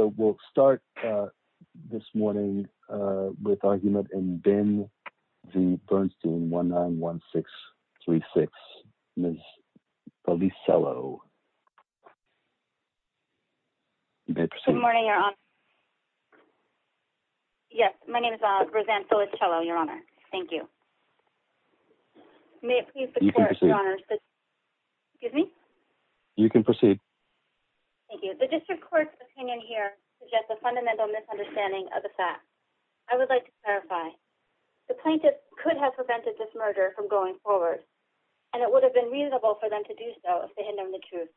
So we'll start this morning with our unit in Binn v. Bernstein, 191636, Ms. Feliciello. Good morning, Your Honor. Yes, my name is Roseanne Feliciello, Your Honor. Thank you. May it please the Court, Your Honor. Excuse me? You can proceed. Thank you. The District Court's opinion here suggests a fundamental misunderstanding of the facts. I would like to clarify. The plaintiff could have prevented this murder from going forward, and it would have been reasonable for them to do so if they had known the truth.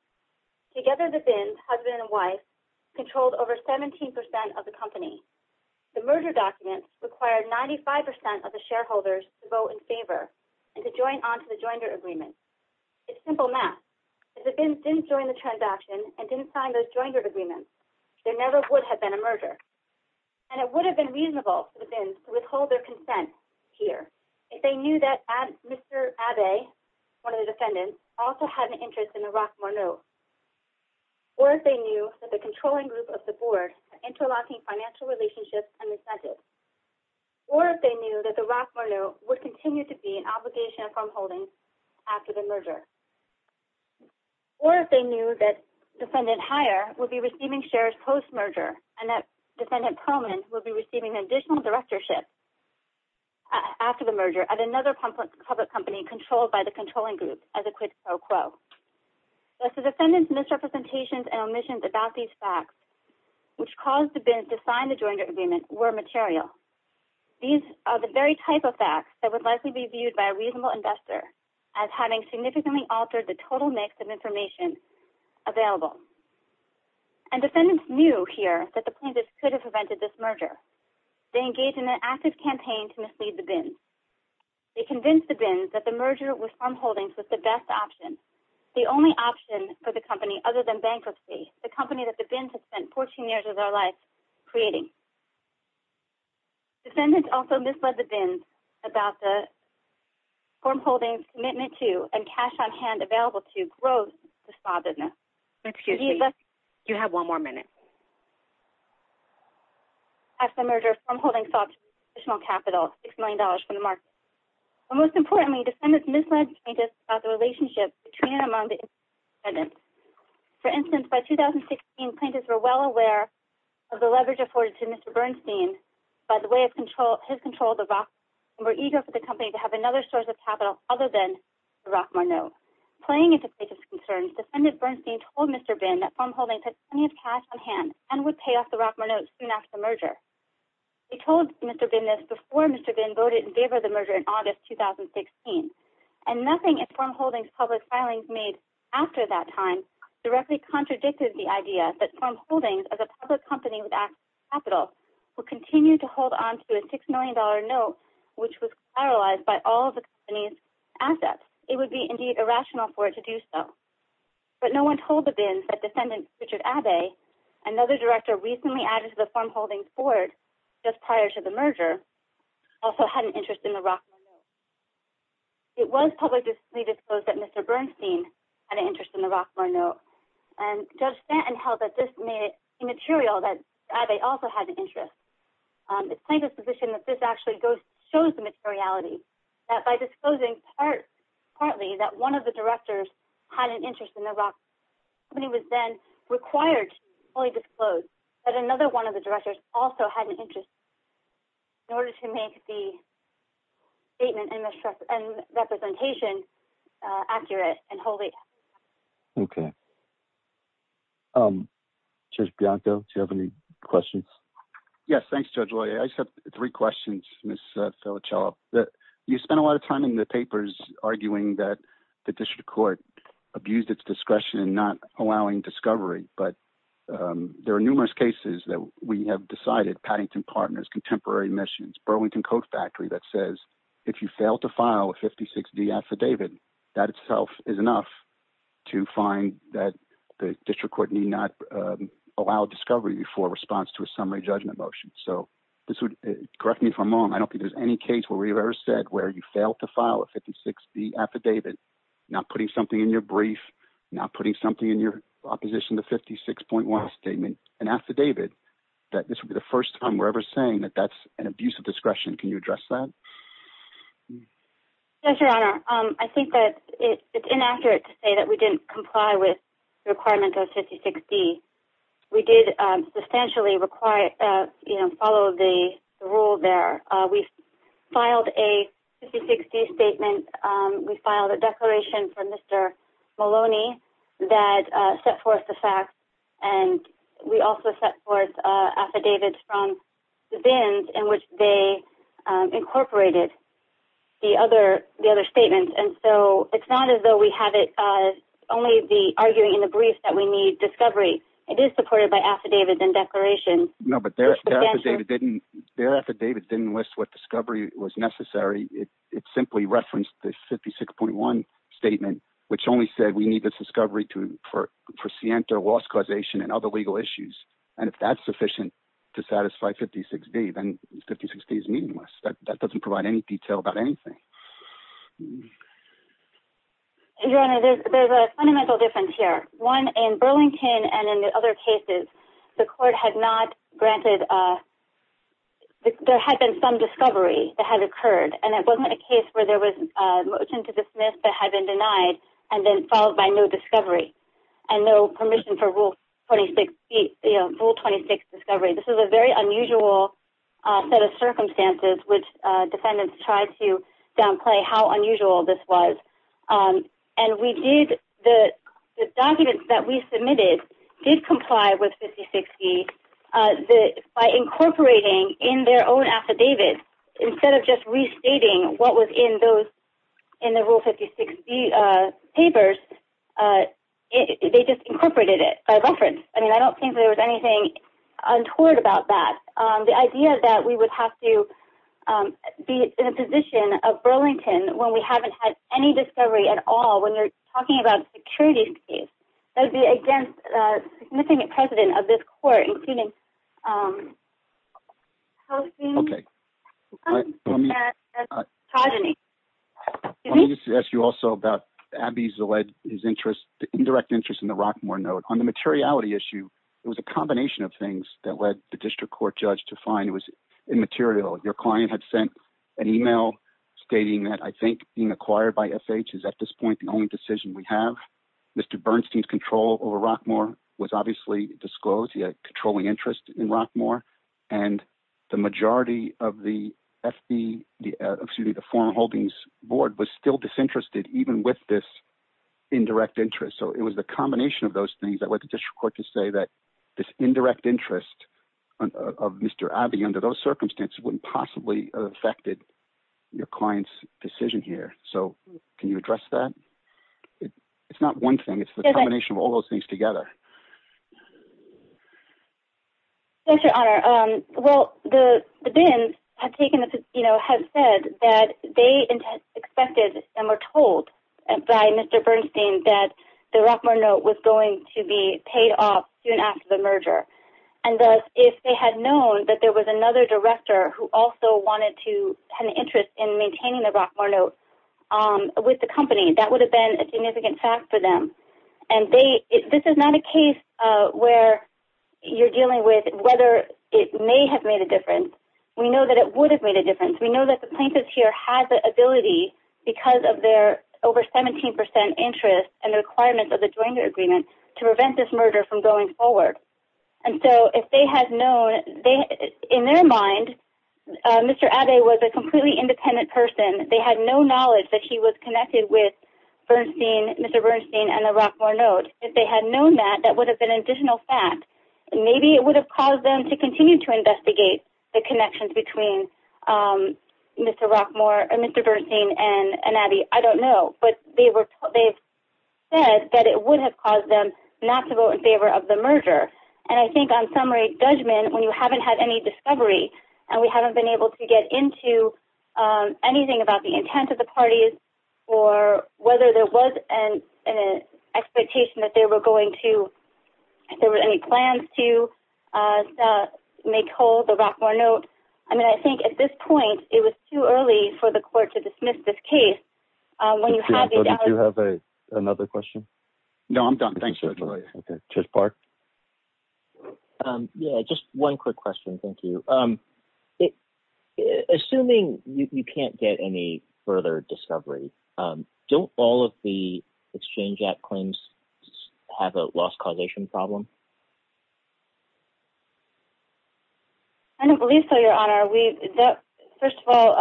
Together, the Binns, husband and wife, controlled over 17% of the company. The murder documents required 95% of the shareholders to vote in favor and to join onto the joinder agreement. It's simple math. If the Binns didn't join the transaction and didn't sign those joinder agreements, there never would have been a murder. And it would have been reasonable for the Binns to withhold their consent here if they knew that Mr. Abbe, one of the defendants, also had an interest in the Rothmore note, or if they knew that the controlling group of the board were interlocking financial relationships and resented, or if they knew that the Rothmore note would continue to be an obligation of the merger, or if they knew that Defendant Heyer would be receiving shares post-merger and that Defendant Perlman would be receiving additional directorship after the merger at another public company controlled by the controlling group, as a quid pro quo. Thus, the defendants' misrepresentations and omissions about these facts, which caused the Binns to sign the joinder agreement, were material. These are the very type of facts that would likely be viewed by a reasonable investor as having significantly altered the total mix of information available. And defendants knew here that the plaintiffs could have prevented this merger. They engaged in an active campaign to mislead the Binns. They convinced the Binns that the merger with Farm Holdings was the best option, the only option for the company other than bankruptcy, the company that the Binns had spent 14 years of their life creating. Defendants also misled the Binns about the Farm Holdings' commitment to, and cash on hand available to, growth to spawn business. Excuse me. You have one more minute. After the merger, Farm Holdings sought additional capital, $6 million from the market. And most importantly, defendants misled plaintiffs about the relationship between and among the independent defendants. For instance, by 2016, plaintiffs were well aware of the leverage afforded to Mr. Bernstein by the way of his control of the Roths and were eager for the company to have another source of capital other than the Rothmore note. Playing into plaintiffs' concerns, Defendant Bernstein told Mr. Binn that Farm Holdings had plenty of cash on hand and would pay off the Rothmore note soon after the merger. He told Mr. Binn this before Mr. Binn voted in favor of the merger in August 2016. And nothing in Farm Holdings' public filings made after that time directly contradicted the idea that Farm Holdings, as a public company with access to capital, would continue to hold on to a $6 million note which was paralyzed by all of the company's assets. It would be indeed irrational for it to do so. But no one told the Binns that Defendant Richard Abbe, another director recently added to the Farm Holdings board just prior to the merger, also had an interest in the Rothmore note. It was publicly disclosed that Mr. Bernstein had an interest in the Rothmore note. And Judge Stanton held that this made it immaterial that Abbe also had an interest. It's plaintiffs' position that this actually goes...shows the materiality. That by disclosing partly that one of the directors had an interest in the Rothmore note, the company was then required to fully disclose that another one of the directors also had an interest in order to make the statement and representation accurate and wholly accurate. Okay. Judge Bianco, do you have any questions? Yes. Thanks, Judge Loyer. I just have three questions, Ms. Felicello. You spent a lot of time in the papers arguing that the district court abused its discretion in not allowing discovery, but there are numerous cases that we have decided, Paddington Partners, Contemporary Missions, Burlington Coat Factory, that says if you fail to file a 56-D affidavit, that itself is enough to find that the district court need not allow discovery for response to a summary judgment motion. So, correct me if I'm wrong, I don't think there's any case where we've ever said where you fail to file a 56-D affidavit, not putting something in your brief, not putting something in your opposition to 56.1 statement, an affidavit, that this would be the first time we're ever saying that that's an abuse of discretion. Can you address that? Yes, Your Honor. I think that it's inaccurate to say that we didn't comply with the requirements of 56-D. We did substantially follow the rule there. We filed a 56-D statement. We filed a declaration from Mr. Maloney that set forth the facts, and we also set forth affidavits from the VINs in which they incorporated the other statements. And so, it's not as though we have it only the arguing in the brief that we need discovery. It is supported by affidavits and declarations. No, but their affidavit didn't list what discovery was necessary. It simply referenced the 56.1 statement, which only said we need this discovery for scienter loss causation and other legal issues. And if that's sufficient to satisfy 56-D, then 56-D is meaningless. That doesn't provide any detail about anything. Your Honor, there's a fundamental difference here. One, in Burlington and in the other cases, the court had not granted... There had been some discovery that had occurred, and it wasn't a case where there was a motion to dismiss that had been denied and then followed by no discovery and no permission for Rule 26 discovery. This is a very unusual set of circumstances, which defendants tried to downplay how unusual this was. And we did... The documents that we submitted did comply with 56-D by incorporating in their own affidavit, instead of just restating what was in those...in the Rule 56-D papers, they just incorporated it by reference. I mean, I don't think there was anything untoward about that. The idea that we would have to be in a position of Burlington when we haven't had any discovery at all, when you're talking about a securities case, that would be against a significant precedent of this court, including... Okay. Let me just ask you also about Abbey's alleged interest, the indirect interest in the Rockmore note. On the materiality issue, it was a combination of things that led the district court judge to find it was immaterial. Your client had sent an email stating that, I think, being acquired by FH is, at this point, the only decision we have. Mr. Bernstein's control over Rockmore was obviously disclosed. He had controlling interest in Rockmore. And the majority of the FB... Excuse me, the Foreign Holdings Board was still disinterested, even with this indirect interest. So, it was the combination of those things that led the district court to say that this indirect interest of Mr. Abbey, under those circumstances, wouldn't possibly have affected your client's decision here. So, can you address that? It's not one thing. It's the combination of all those things together. Yes, Your Honor. Well, the BIN has said that they expected and were told by Mr. Bernstein that the Rockmore note was going to be paid off soon after the merger. And thus, if they had known that there was another director who also wanted to have an interest in maintaining the Rockmore note with the company, that would have been a significant fact for them. And they... This is not a case where you're dealing with whether it may have made a difference. We know that it would have made a difference. We know that the plaintiffs here had the ability, because of their over 17% interest and the requirements of the joint agreement, to prevent this merger from going forward. And so, if they had known... In their mind, Mr. Abbey was a completely independent person. They had no knowledge that he was connected with Bernstein, Mr. Bernstein, and the Rockmore note. If they had known that, that would have been an additional fact. And maybe it would have caused them to continue to investigate the connections between Mr. Rockmore... Mr. Bernstein and Abbey. I don't know. But they've said that it would have caused them not to vote in favor of the merger. And I think on summary judgment, when you haven't had any discovery and we haven't been able to get into anything about the intent of the parties or whether there was an expectation that they were going to... If there were any plans to make whole the Rockmore note. I mean, I think at this point, it was too early for the court to dismiss this case when you have... So, did you have another question? No, I'm done. Thank you. Okay. Judge Park? Yeah. Just one quick question. Thank you. Assuming you can't get any further discovery, don't all of the exchange act claims have a loss causation problem? I don't believe so, Your Honor. We... First of all,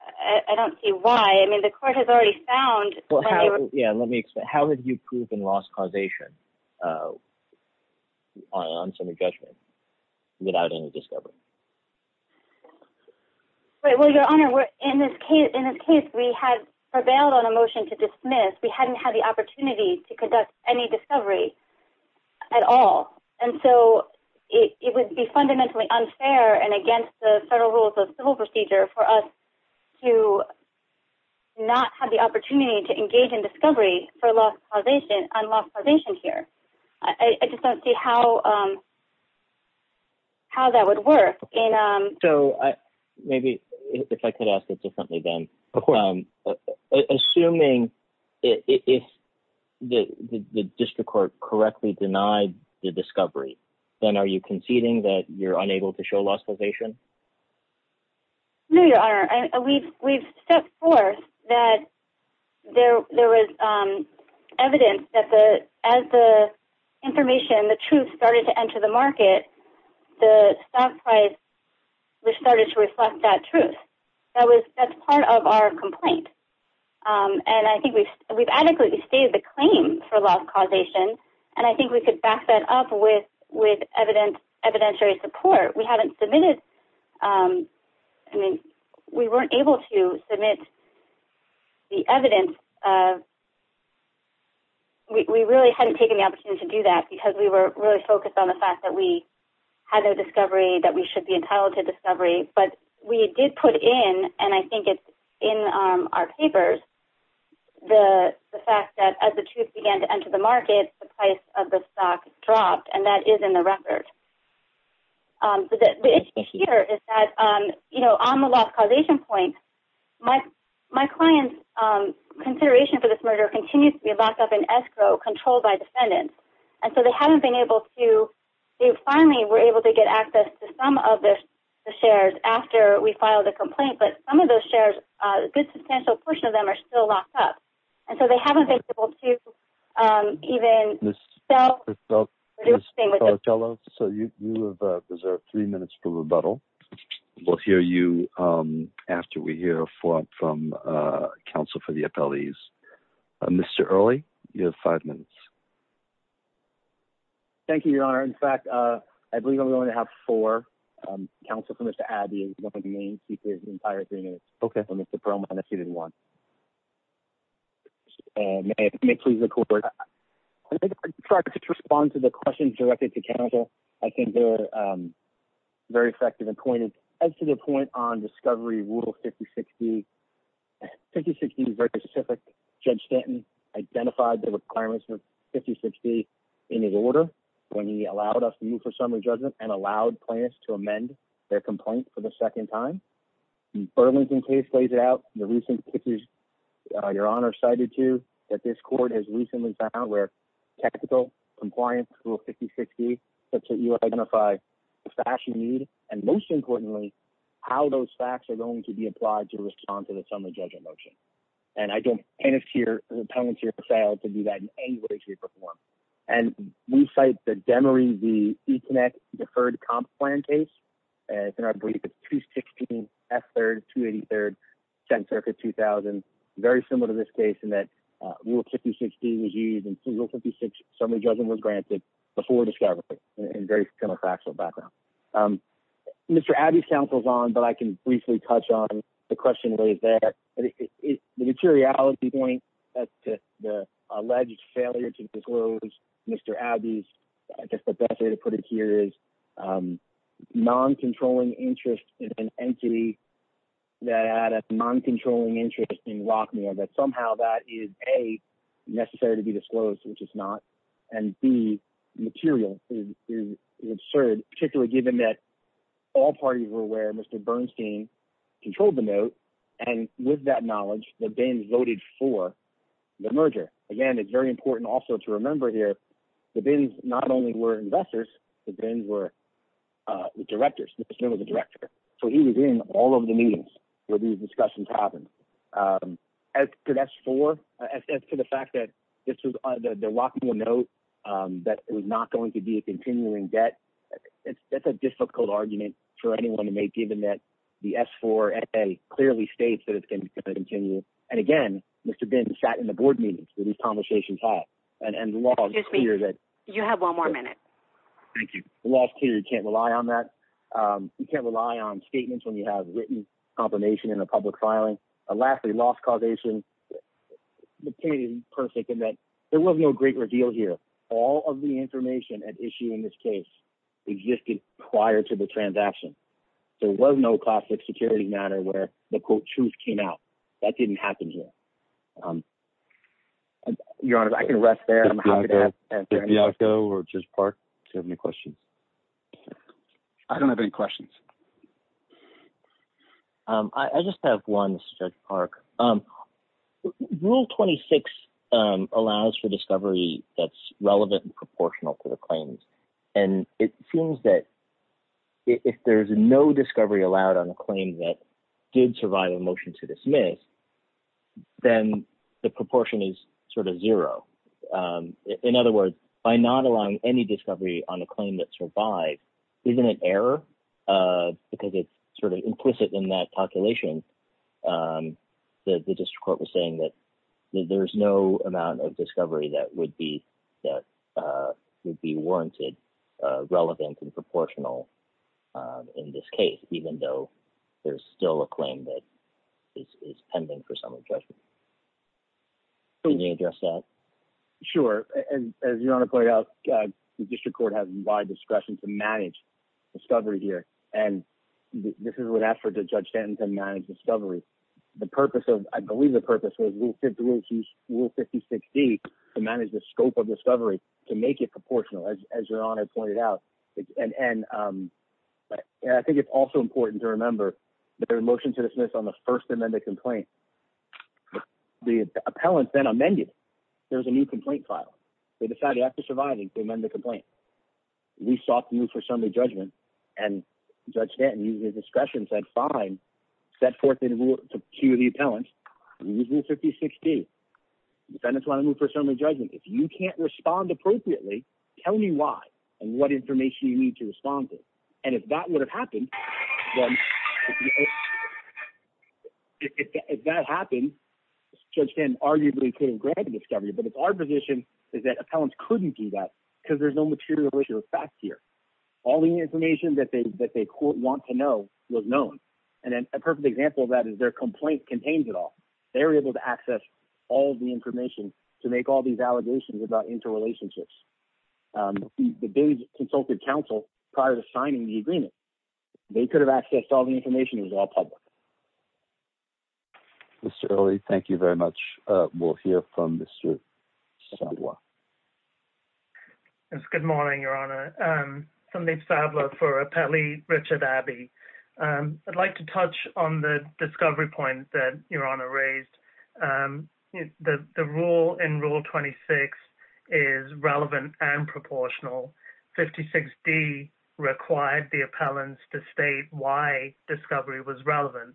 I don't see why. I mean, the court has already found... Well, how... Yeah, let me explain. How would you prove a loss causation on summary judgment without any discovery? Right. Well, Your Honor, in this case, we had prevailed on a motion to dismiss. We hadn't had the opportunity to conduct any discovery at all. And so, it would be fundamentally unfair and against the federal rules of civil procedure for us to not have the opportunity to engage in discovery for loss causation on loss causation here. I just don't see how that would work. So, maybe if I could ask it differently then. Of course. Assuming if the district court correctly denied the discovery, then are you conceding that you're unable to show loss causation? No, Your Honor. We've stepped forth that there was evidence that as the information, the truth, started to enter the market, the stock price started to reflect that truth. That's part of our complaint. And I think we've adequately stated the claim for loss causation, and I think we could back that up with evidentiary support. We haven't submitted... I mean, we weren't able to submit the evidence of... We really hadn't taken the opportunity to do that, because we were really focused on the fact that we had no discovery, that we should be entitled to discovery. But we did put in, and I think it's in our papers, the fact that as the truth began to The issue here is that, you know, on the loss causation point, my client's consideration for this murder continues to be locked up in escrow, controlled by defendants. And so, they haven't been able to... They finally were able to get access to some of the shares after we filed the complaint, but some of those shares, a good substantial portion of them are still locked up. And so, they haven't been able to even sell... So, you have reserved three minutes for rebuttal. We'll hear you after we hear a form from counsel for the appellees. Mr. Early, you have five minutes. Thank you, Your Honor. In fact, I believe I'm going to have four. Counsel for Mr. Abbey is going to remain seated for the entire three minutes. Okay. For Mr. Perlman, if he didn't want. May I please record? I'll try to respond to the questions directed to counsel. I think they're very effective and pointed. As to the point on discovery rule 50-60, 50-60 is very specific. Judge Stanton identified the requirements for 50-60 in his order when he allowed us to move for summary judgment and allowed plaintiffs to amend their complaint for the second time. The Burlington case lays it out. Your Honor cited to that this court has recently found where technical compliance rule 50-60 such that you identify the facts you need and, most importantly, how those facts are going to be applied to respond to the summary judgment motion. And I don't pen it to your appellant to do that in any way, shape, or form. And we cite the Demery v. Econnect deferred comp plan case. It's in our brief. It's 216 F-3rd, 283rd, 10th Circuit, 2000. Very similar to this case in that rule 50-60 was used, and rule 50-60 summary judgment was granted before discovery in a very counterfactual background. Mr. Abbey's counsel is on, but I can briefly touch on the question raised there. The materiality point as to the alleged failure to disclose Mr. Abbey's, I guess the best way to put it here is non-controlling interest in an entity that had a non-controlling interest in Rockmere, that somehow that is, A, necessary to be disclosed, which it's not, and, B, material is absurd, particularly given that all parties were aware Mr. Bernstein controlled the note, and with that knowledge the bin voted for the merger. Again, it's very important also to remember here that the bins not only were investors, the bins were directors. Mr. Bernstein was a director, so he was in all of the meetings where these discussions happened. As for S-4, as to the fact that this was the Rockmere note that it was not going to be a continuing debt, that's a difficult argument for anyone to make, given that the S-4 FA clearly states that it's going to continue. And, again, Mr. Bin sat in the board meetings where these conversations are and the law is clear that you can't rely on that. You can't rely on statements when you have written confirmation in a public filing. Lastly, loss causation, the case is perfect in that there was no great reveal here. All of the information at issue in this case existed prior to the transaction. There was no classic security matter where the, quote, truth came out. That didn't happen here. Your Honor, I can rest there. I'm happy to answer any questions. I don't have any questions. I just have one, Judge Park. Rule 26 allows for discovery that's relevant and proportional to the claims, and it seems that if there's no discovery allowed on a claim that did survive a motion to dismiss, then the proportion is sort of zero. In other words, by not allowing any discovery on a claim that survived, isn't it error? Because it's sort of implicit in that calculation that the district court was saying that there's no amount of discovery that would be warranted relevant and proportional in this case, even though there's still a claim that is pending for some adjustment. Can you address that? Sure. As Your Honor pointed out, the district court has wide discretion to manage discovery here, and this is what asked for Judge Stanton to manage discovery. I believe the purpose was Rule 5060 to manage the scope of discovery to make it proportional, as Your Honor pointed out. And I think it's also important to remember that there was a motion to dismiss on the first amended complaint. The appellant then amended it. There was a new complaint filed. They decided after surviving to amend the complaint. We sought to move for summary judgment, and Judge Stanton, using his discretion, said fine, set forth the rule to the appellant, and we used Rule 5060. Defendants want to move for summary judgment. If you can't respond appropriately, tell me why and what information you need to respond to. And if that would have happened, Judge Stanton arguably could have granted discovery, but our position is that appellants couldn't do that because there's no material issue of fact here. All the information that they want to know was known, and a perfect example of that is their complaint contains it all. They were able to access all of the information to make all these allegations about interrelationships. They consulted counsel prior to signing the agreement. They could have accessed all the information. It was all public. Mr. Early, thank you very much. We'll hear from Mr. Sabla. Yes, good morning, Your Honor. My name is Sabla for Appellee Richard Abbey. I'd like to touch on the discovery point that Your Honor raised. The rule in Rule 26 is relevant and proportional. 56D required the appellants to state why discovery was relevant.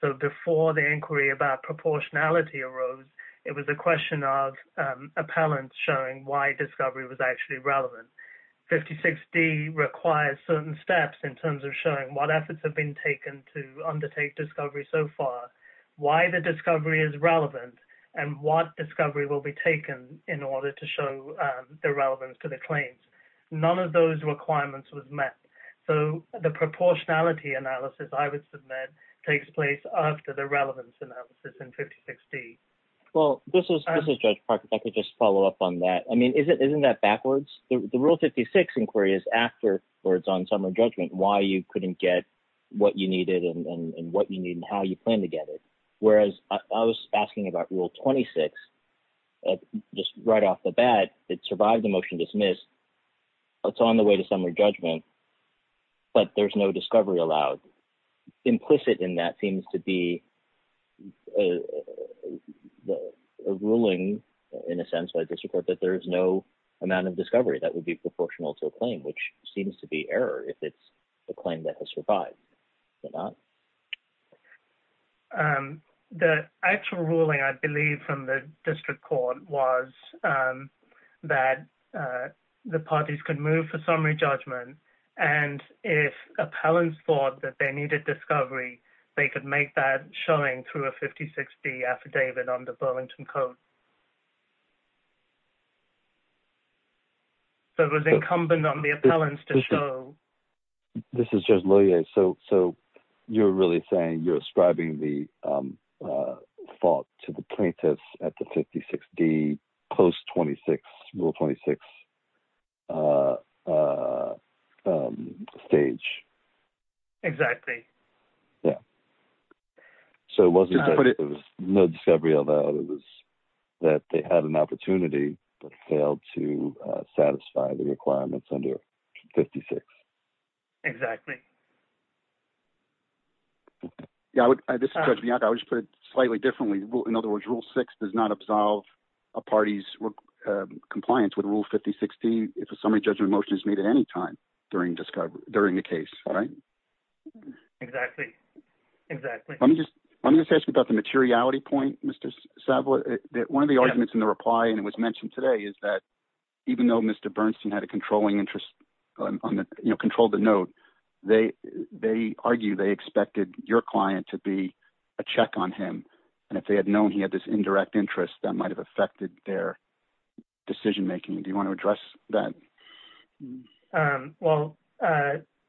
So before the inquiry about proportionality arose, it was a question of appellants showing why discovery was actually relevant. 56D requires certain steps in terms of showing what efforts have been taken to undertake discovery so far, why the discovery is relevant, and what discovery will be taken in order to show the relevance to the claims. None of those requirements was met. So the proportionality analysis, I would submit, takes place after the relevance analysis in 56D. Well, this is Judge Parker. If I could just follow up on that. I mean, isn't that backwards? The Rule 56 inquiry is after it's on summary judgment, why you couldn't get what you needed and what you need and how you plan to get it, whereas I was asking about Rule 26 just right off the bat. It survived the motion dismissed. It's on the way to summary judgment, but there's no discovery allowed. Implicit in that seems to be a ruling, in a sense, by district court, that there is no amount of discovery that would be proportional to a claim, which seems to be error if it's a claim that has survived. Is it not? The actual ruling, I believe, from the district court was that the parties could move for summary judgment. And if appellants thought that they needed discovery, they could make that showing through a 56D affidavit under Burlington Code. So it was incumbent on the appellants to show. This is Judge Lillie. So you're really saying you're ascribing the fault to the plaintiffs at the 56D post-26, Rule 26 stage? Exactly. Yeah. So it wasn't that there was no discovery allowed. It was that they had an opportunity but failed to satisfy the requirements under 56. Exactly. This is Judge Bianca. I would just put it slightly differently. In other words, Rule 6 does not absolve a party's compliance with Rule 5016 if a summary judgment motion is made at any time during the case. Exactly. Let me just ask you about the materiality point, Mr. Savoy. One of the arguments in the reply, and it was mentioned today, is that even though Mr. Bernstein had a controlling interest, controlled the note, they argue they expected your client to be a check on him. And if they had known he had this indirect interest, that might have affected their decision-making. Do you want to address that? Well,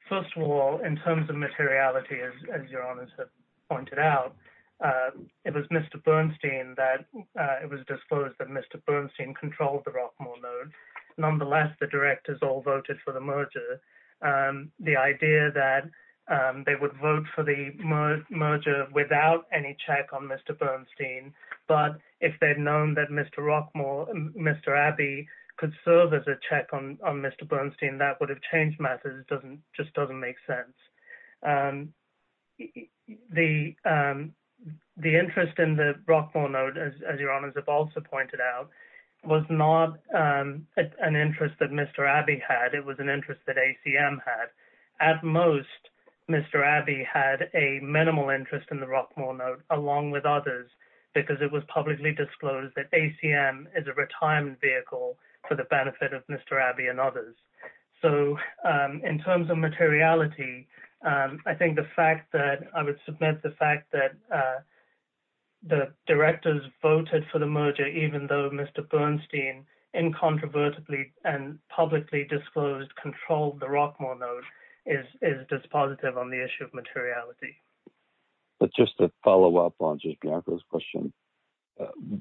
first of all, in terms of materiality, as your Honours have pointed out, it was Mr. Bernstein that it was disclosed that Mr. Bernstein controlled the Rockmore note. Nonetheless, the directors all voted for the merger. The idea that they would vote for the merger without any check on Mr. Bernstein, but if they'd known that Mr. Rockmore, Mr. Abbey, could serve as a check on Mr. Bernstein, that would have changed matters. It just doesn't make sense. The interest in the Rockmore note, as your Honours have also pointed out, was not an interest that Mr. Abbey had, it was an interest that ACM had. At most, Mr. Abbey had a minimal interest in the Rockmore note, along with others, because it was publicly disclosed that ACM is a retirement vehicle for the benefit of Mr. Abbey and others. In terms of materiality, I would submit the fact that the directors voted for the merger even though Mr. Bernstein incontrovertibly and publicly disclosed controlled the Rockmore note is dispositive on the issue of materiality. But just to follow up on just Bianca's question,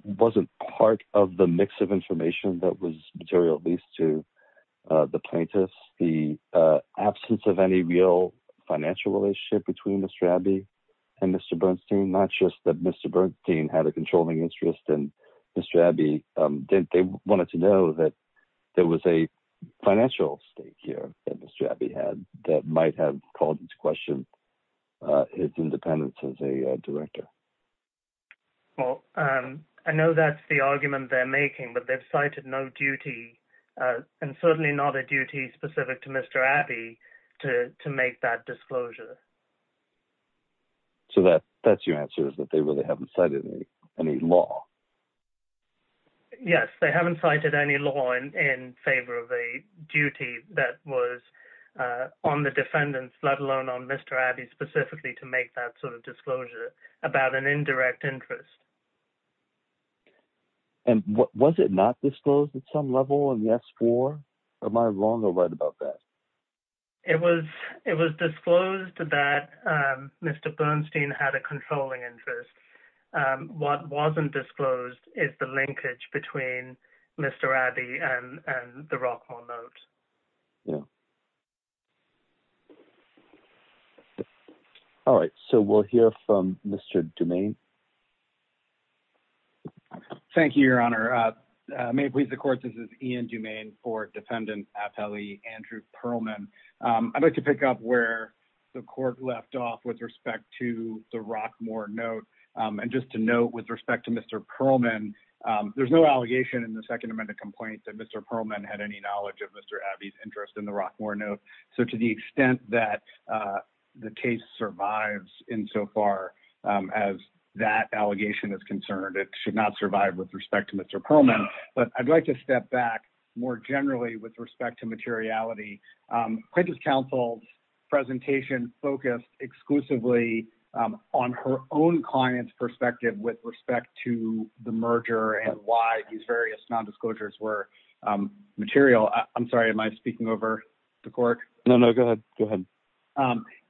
wasn't part of the mix of information that was material, at least to the plaintiffs, the absence of any real financial relationship between Mr. Abbey and Mr. Bernstein? Not just that Mr. Bernstein had a controlling interest and Mr. Abbey didn't. They wanted to know that there was a financial stake here that Mr. Abbey had that might have called into question his independence as a director. Well, I know that's the argument they're making, but they've cited no duty, and certainly not a duty specific to Mr. Abbey, to make that disclosure. So that's your answer, is that they really haven't cited any law? Yes, they haven't cited any law in favor of a duty that was on the defendants, let alone on Mr. Abbey specifically to make that sort of disclosure about an indirect interest. And was it not disclosed at some level in the S-4? Am I wrong or right about that? It was disclosed that Mr. Bernstein had a controlling interest. What wasn't disclosed is the linkage between Mr. Abbey and the Rockwell note. All right, so we'll hear from Mr. Dumaine. Thank you, Your Honor. May it please the court, this is Ian Dumaine for defendant appellee Andrew Pearlman. I'd like to pick up where the court left off with respect to the Rockmoor note. And just to note with respect to Mr. Pearlman, there's no allegation in the Second Amendment complaint that Mr. Pearlman had any knowledge of Mr. Abbey's interest in the Rockmoor note. So to the extent that the case survives insofar as that allegation is concerned, it should not survive with respect to Mr. Pearlman. But I'd like to step back more generally with respect to materiality. Quentin's counsel's presentation focused exclusively on her own client's perspective with respect to the merger and why these various nondisclosures were material. I'm sorry, am I speaking over the court? No, no, go ahead. Go ahead.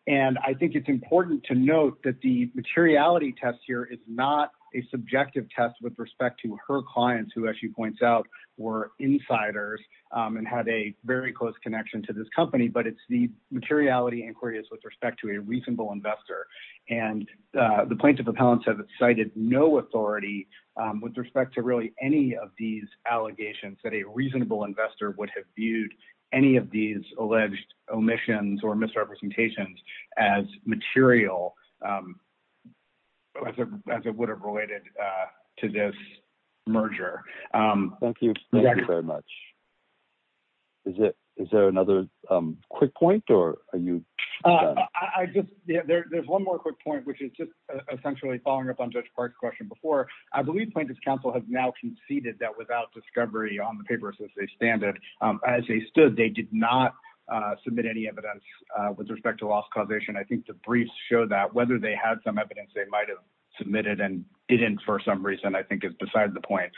And I think it's important to note that the materiality test here is not a subjective test with respect to her clients who, as she points out, were insiders and had a very close connection to this company, but it's the materiality inquiries with respect to a reasonable investor. And the plaintiff appellants have cited no authority with respect to really any of these allegations that a reasonable investor would have viewed any of these alleged omissions or misrepresentations as material, as it would have related to this merger. Thank you. Thank you very much. Is there another quick point or are you... There's one more quick point, which is just essentially following up on Judge Park's question before. I believe Plaintiff's counsel has now conceded that without discovery on the paper as they stand it, as they stood, they did not submit any evidence with respect to loss causation. I think the briefs show that whether they had some evidence they might have submitted and didn't for some reason I think is beside the point.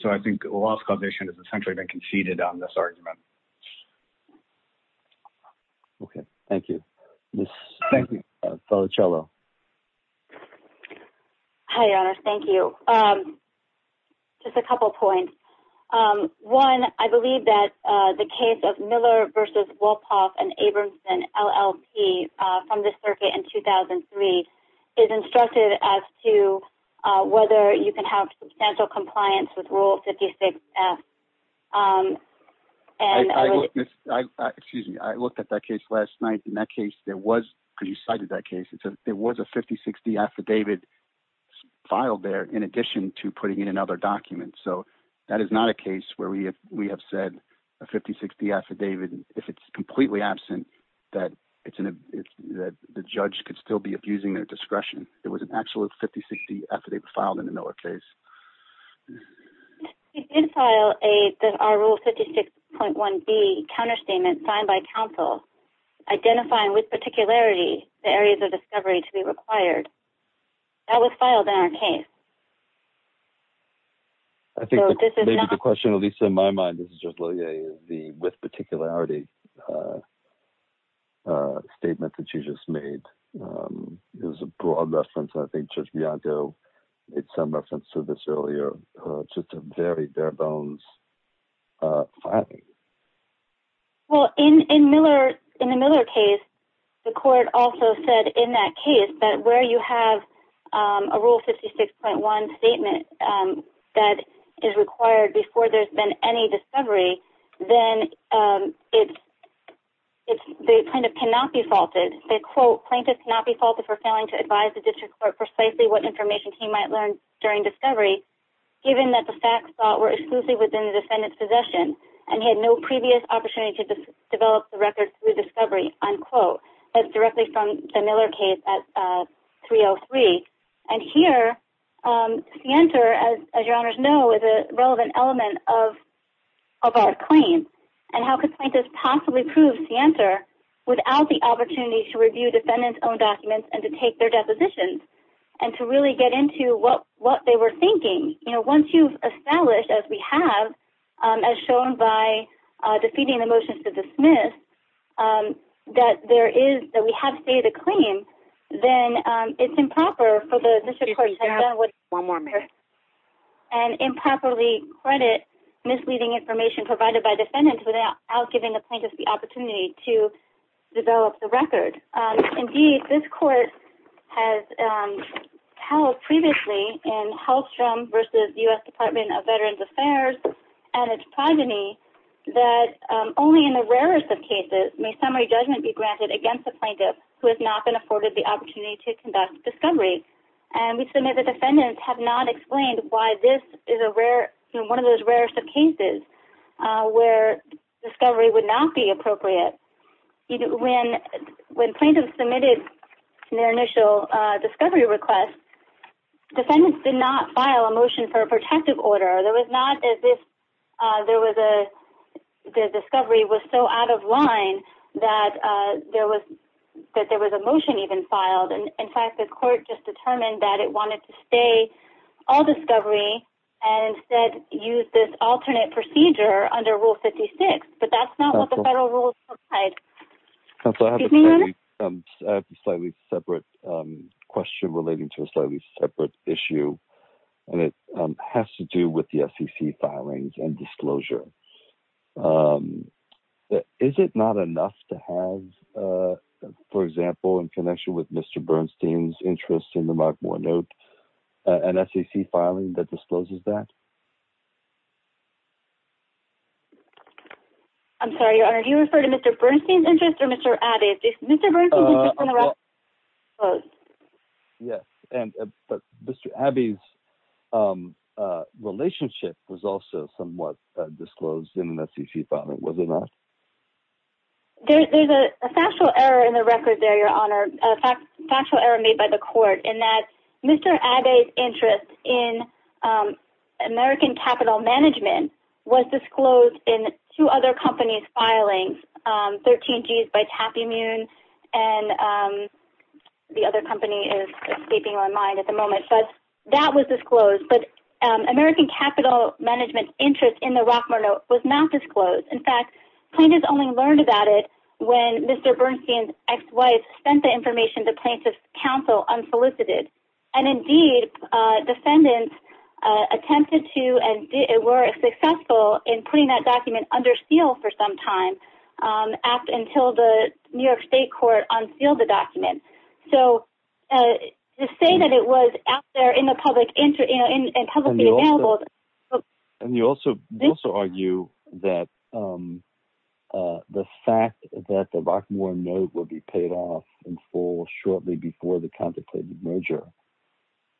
So I think loss causation has essentially been conceded on this argument. Okay. Thank you. Ms. Felicello. Hi, Your Honor. Thank you. Just a couple points. One, I believe that the case of Miller v. Wolpoff and Abramson, LLP from the circuit in 2003 is instructed as to whether you can have substantial compliance with Rule 56F. Excuse me. I looked at that case last night. In that case, because you cited that case, there was a 50-60 affidavit filed there in addition to putting in another document. So that is not a case where we have said a 50-60 affidavit, if it's completely absent, that the judge could still be abusing their discretion. It was an actual 50-60 affidavit filed in the Miller case. We did file our Rule 56.1B counterstatement signed by counsel identifying with particularity the areas of discovery to be required. That was filed in our case. I think maybe the question, at least in my mind, is just the with particularity statement that you just made. It was a broad reference. I think Judge Bianco made some reference to this earlier. It's just a very bare-bones filing. Well, in the Miller case, the court also said in that case that where you have a Rule 56.1 statement that is required before there's been any discovery, then the plaintiff cannot be faulted. They said, they quote, plaintiff cannot be faulted for failing to advise the district court precisely what information he might learn during discovery, given that the facts thought were exclusive within the defendant's possession and he had no previous opportunity to develop the record through discovery, unquote. That's directly from the Miller case at 303. And here, Sienter, as your honors know, is a relevant element of our claim. And how could plaintiffs possibly prove Sienter without the opportunity to review defendant's own documents and to take their depositions and to really get into what they were thinking? Once you've established, as we have, as shown by defeating the motions to dismiss, that we have stated a claim, then it's improper for the district court to have done what Sienter said and improperly credit misleading information provided by defendants without giving the plaintiff the opportunity to develop the record. Indeed, this court has held previously in Hallstrom v. U.S. Department of Veterans Affairs and its progeny that only in the rarest of cases may summary judgment be granted against the plaintiff who has not been afforded the opportunity to conduct discovery. And we submit that defendants have not explained why this is one of those rare cases where discovery would not be appropriate. When plaintiffs submitted their initial discovery request, defendants did not file a motion for a protective order. The discovery was so out of line that there was a motion even filed. In fact, the court just determined that it wanted to stay all discovery and instead use this alternate procedure under Rule 56. But that's not what the federal rules provide. Excuse me, Your Honor? I have a slightly separate question relating to a slightly separate issue, and it has to do with the SEC filings and disclosure. Is it not enough to have, for example, in connection with Mr. Bernstein's interest in the Mark Moore note, an SEC filing that discloses that? I'm sorry, Your Honor. Do you refer to Mr. Bernstein's interest or Mr. Abbey's? Mr. Bernstein's interest in the record was disclosed. Yes, but Mr. Abbey's relationship was also somewhat disclosed in the SEC filing, was it not? There's a factual error in the record there, Your Honor, a factual error made by the court, in that Mr. Abbey's interest in American Capital Management was disclosed in two other companies' filings, 13G's by Tapimune and the other company is escaping my mind at the moment. But that was disclosed. But American Capital Management's interest in the Rockmore note was not disclosed. In fact, plaintiffs only learned about it when Mr. Bernstein's ex-wife sent the information to plaintiffs' counsel unsolicited. And, indeed, defendants attempted to and were successful in putting that document under seal for some time, up until the New York State court unsealed the document. So to say that it was out there in the public and publicly available… And you also argue that the fact that the Rockmore note would be paid off in full shortly before the contemplated merger,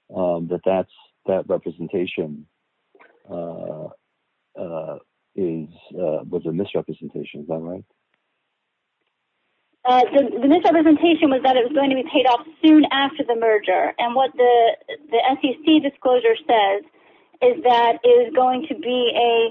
that that representation was a misrepresentation, is that right? The misrepresentation was that it was going to be paid off soon after the merger. And what the SEC disclosure says is that it is going to be a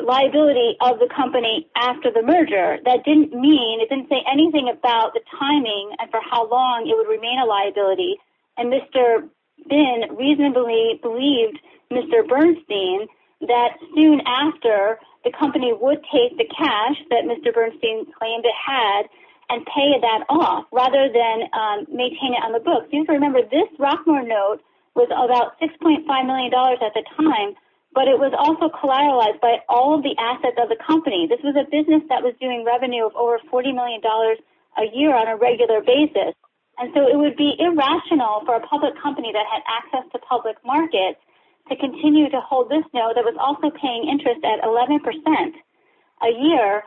liability of the company after the merger. That didn't mean…it didn't say anything about the timing and for how long it would remain a liability. And Mr. Bin reasonably believed Mr. Bernstein that soon after, the company would take the cash that Mr. Bernstein claimed it had and pay that off, rather than maintain it on the books. You have to remember, this Rockmore note was about $6.5 million at the time, but it was also collateralized by all of the assets of the company. This was a business that was doing revenue of over $40 million a year on a regular basis. And so it would be irrational for a public company that had access to public markets to continue to hold this note that was also paying interest at 11% a year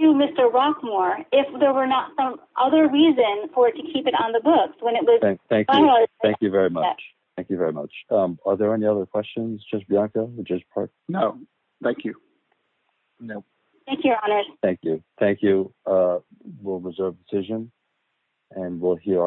to Mr. Rockmore if there were not some other reason for it to keep it on the books when it was… Thank you. Thank you very much. Thank you very much. Are there any other questions, Judge Bianca or Judge Park? No. Thank you. Thank you, Your Honor. Thank you. Thank you. We'll reserve the decision and we'll hear…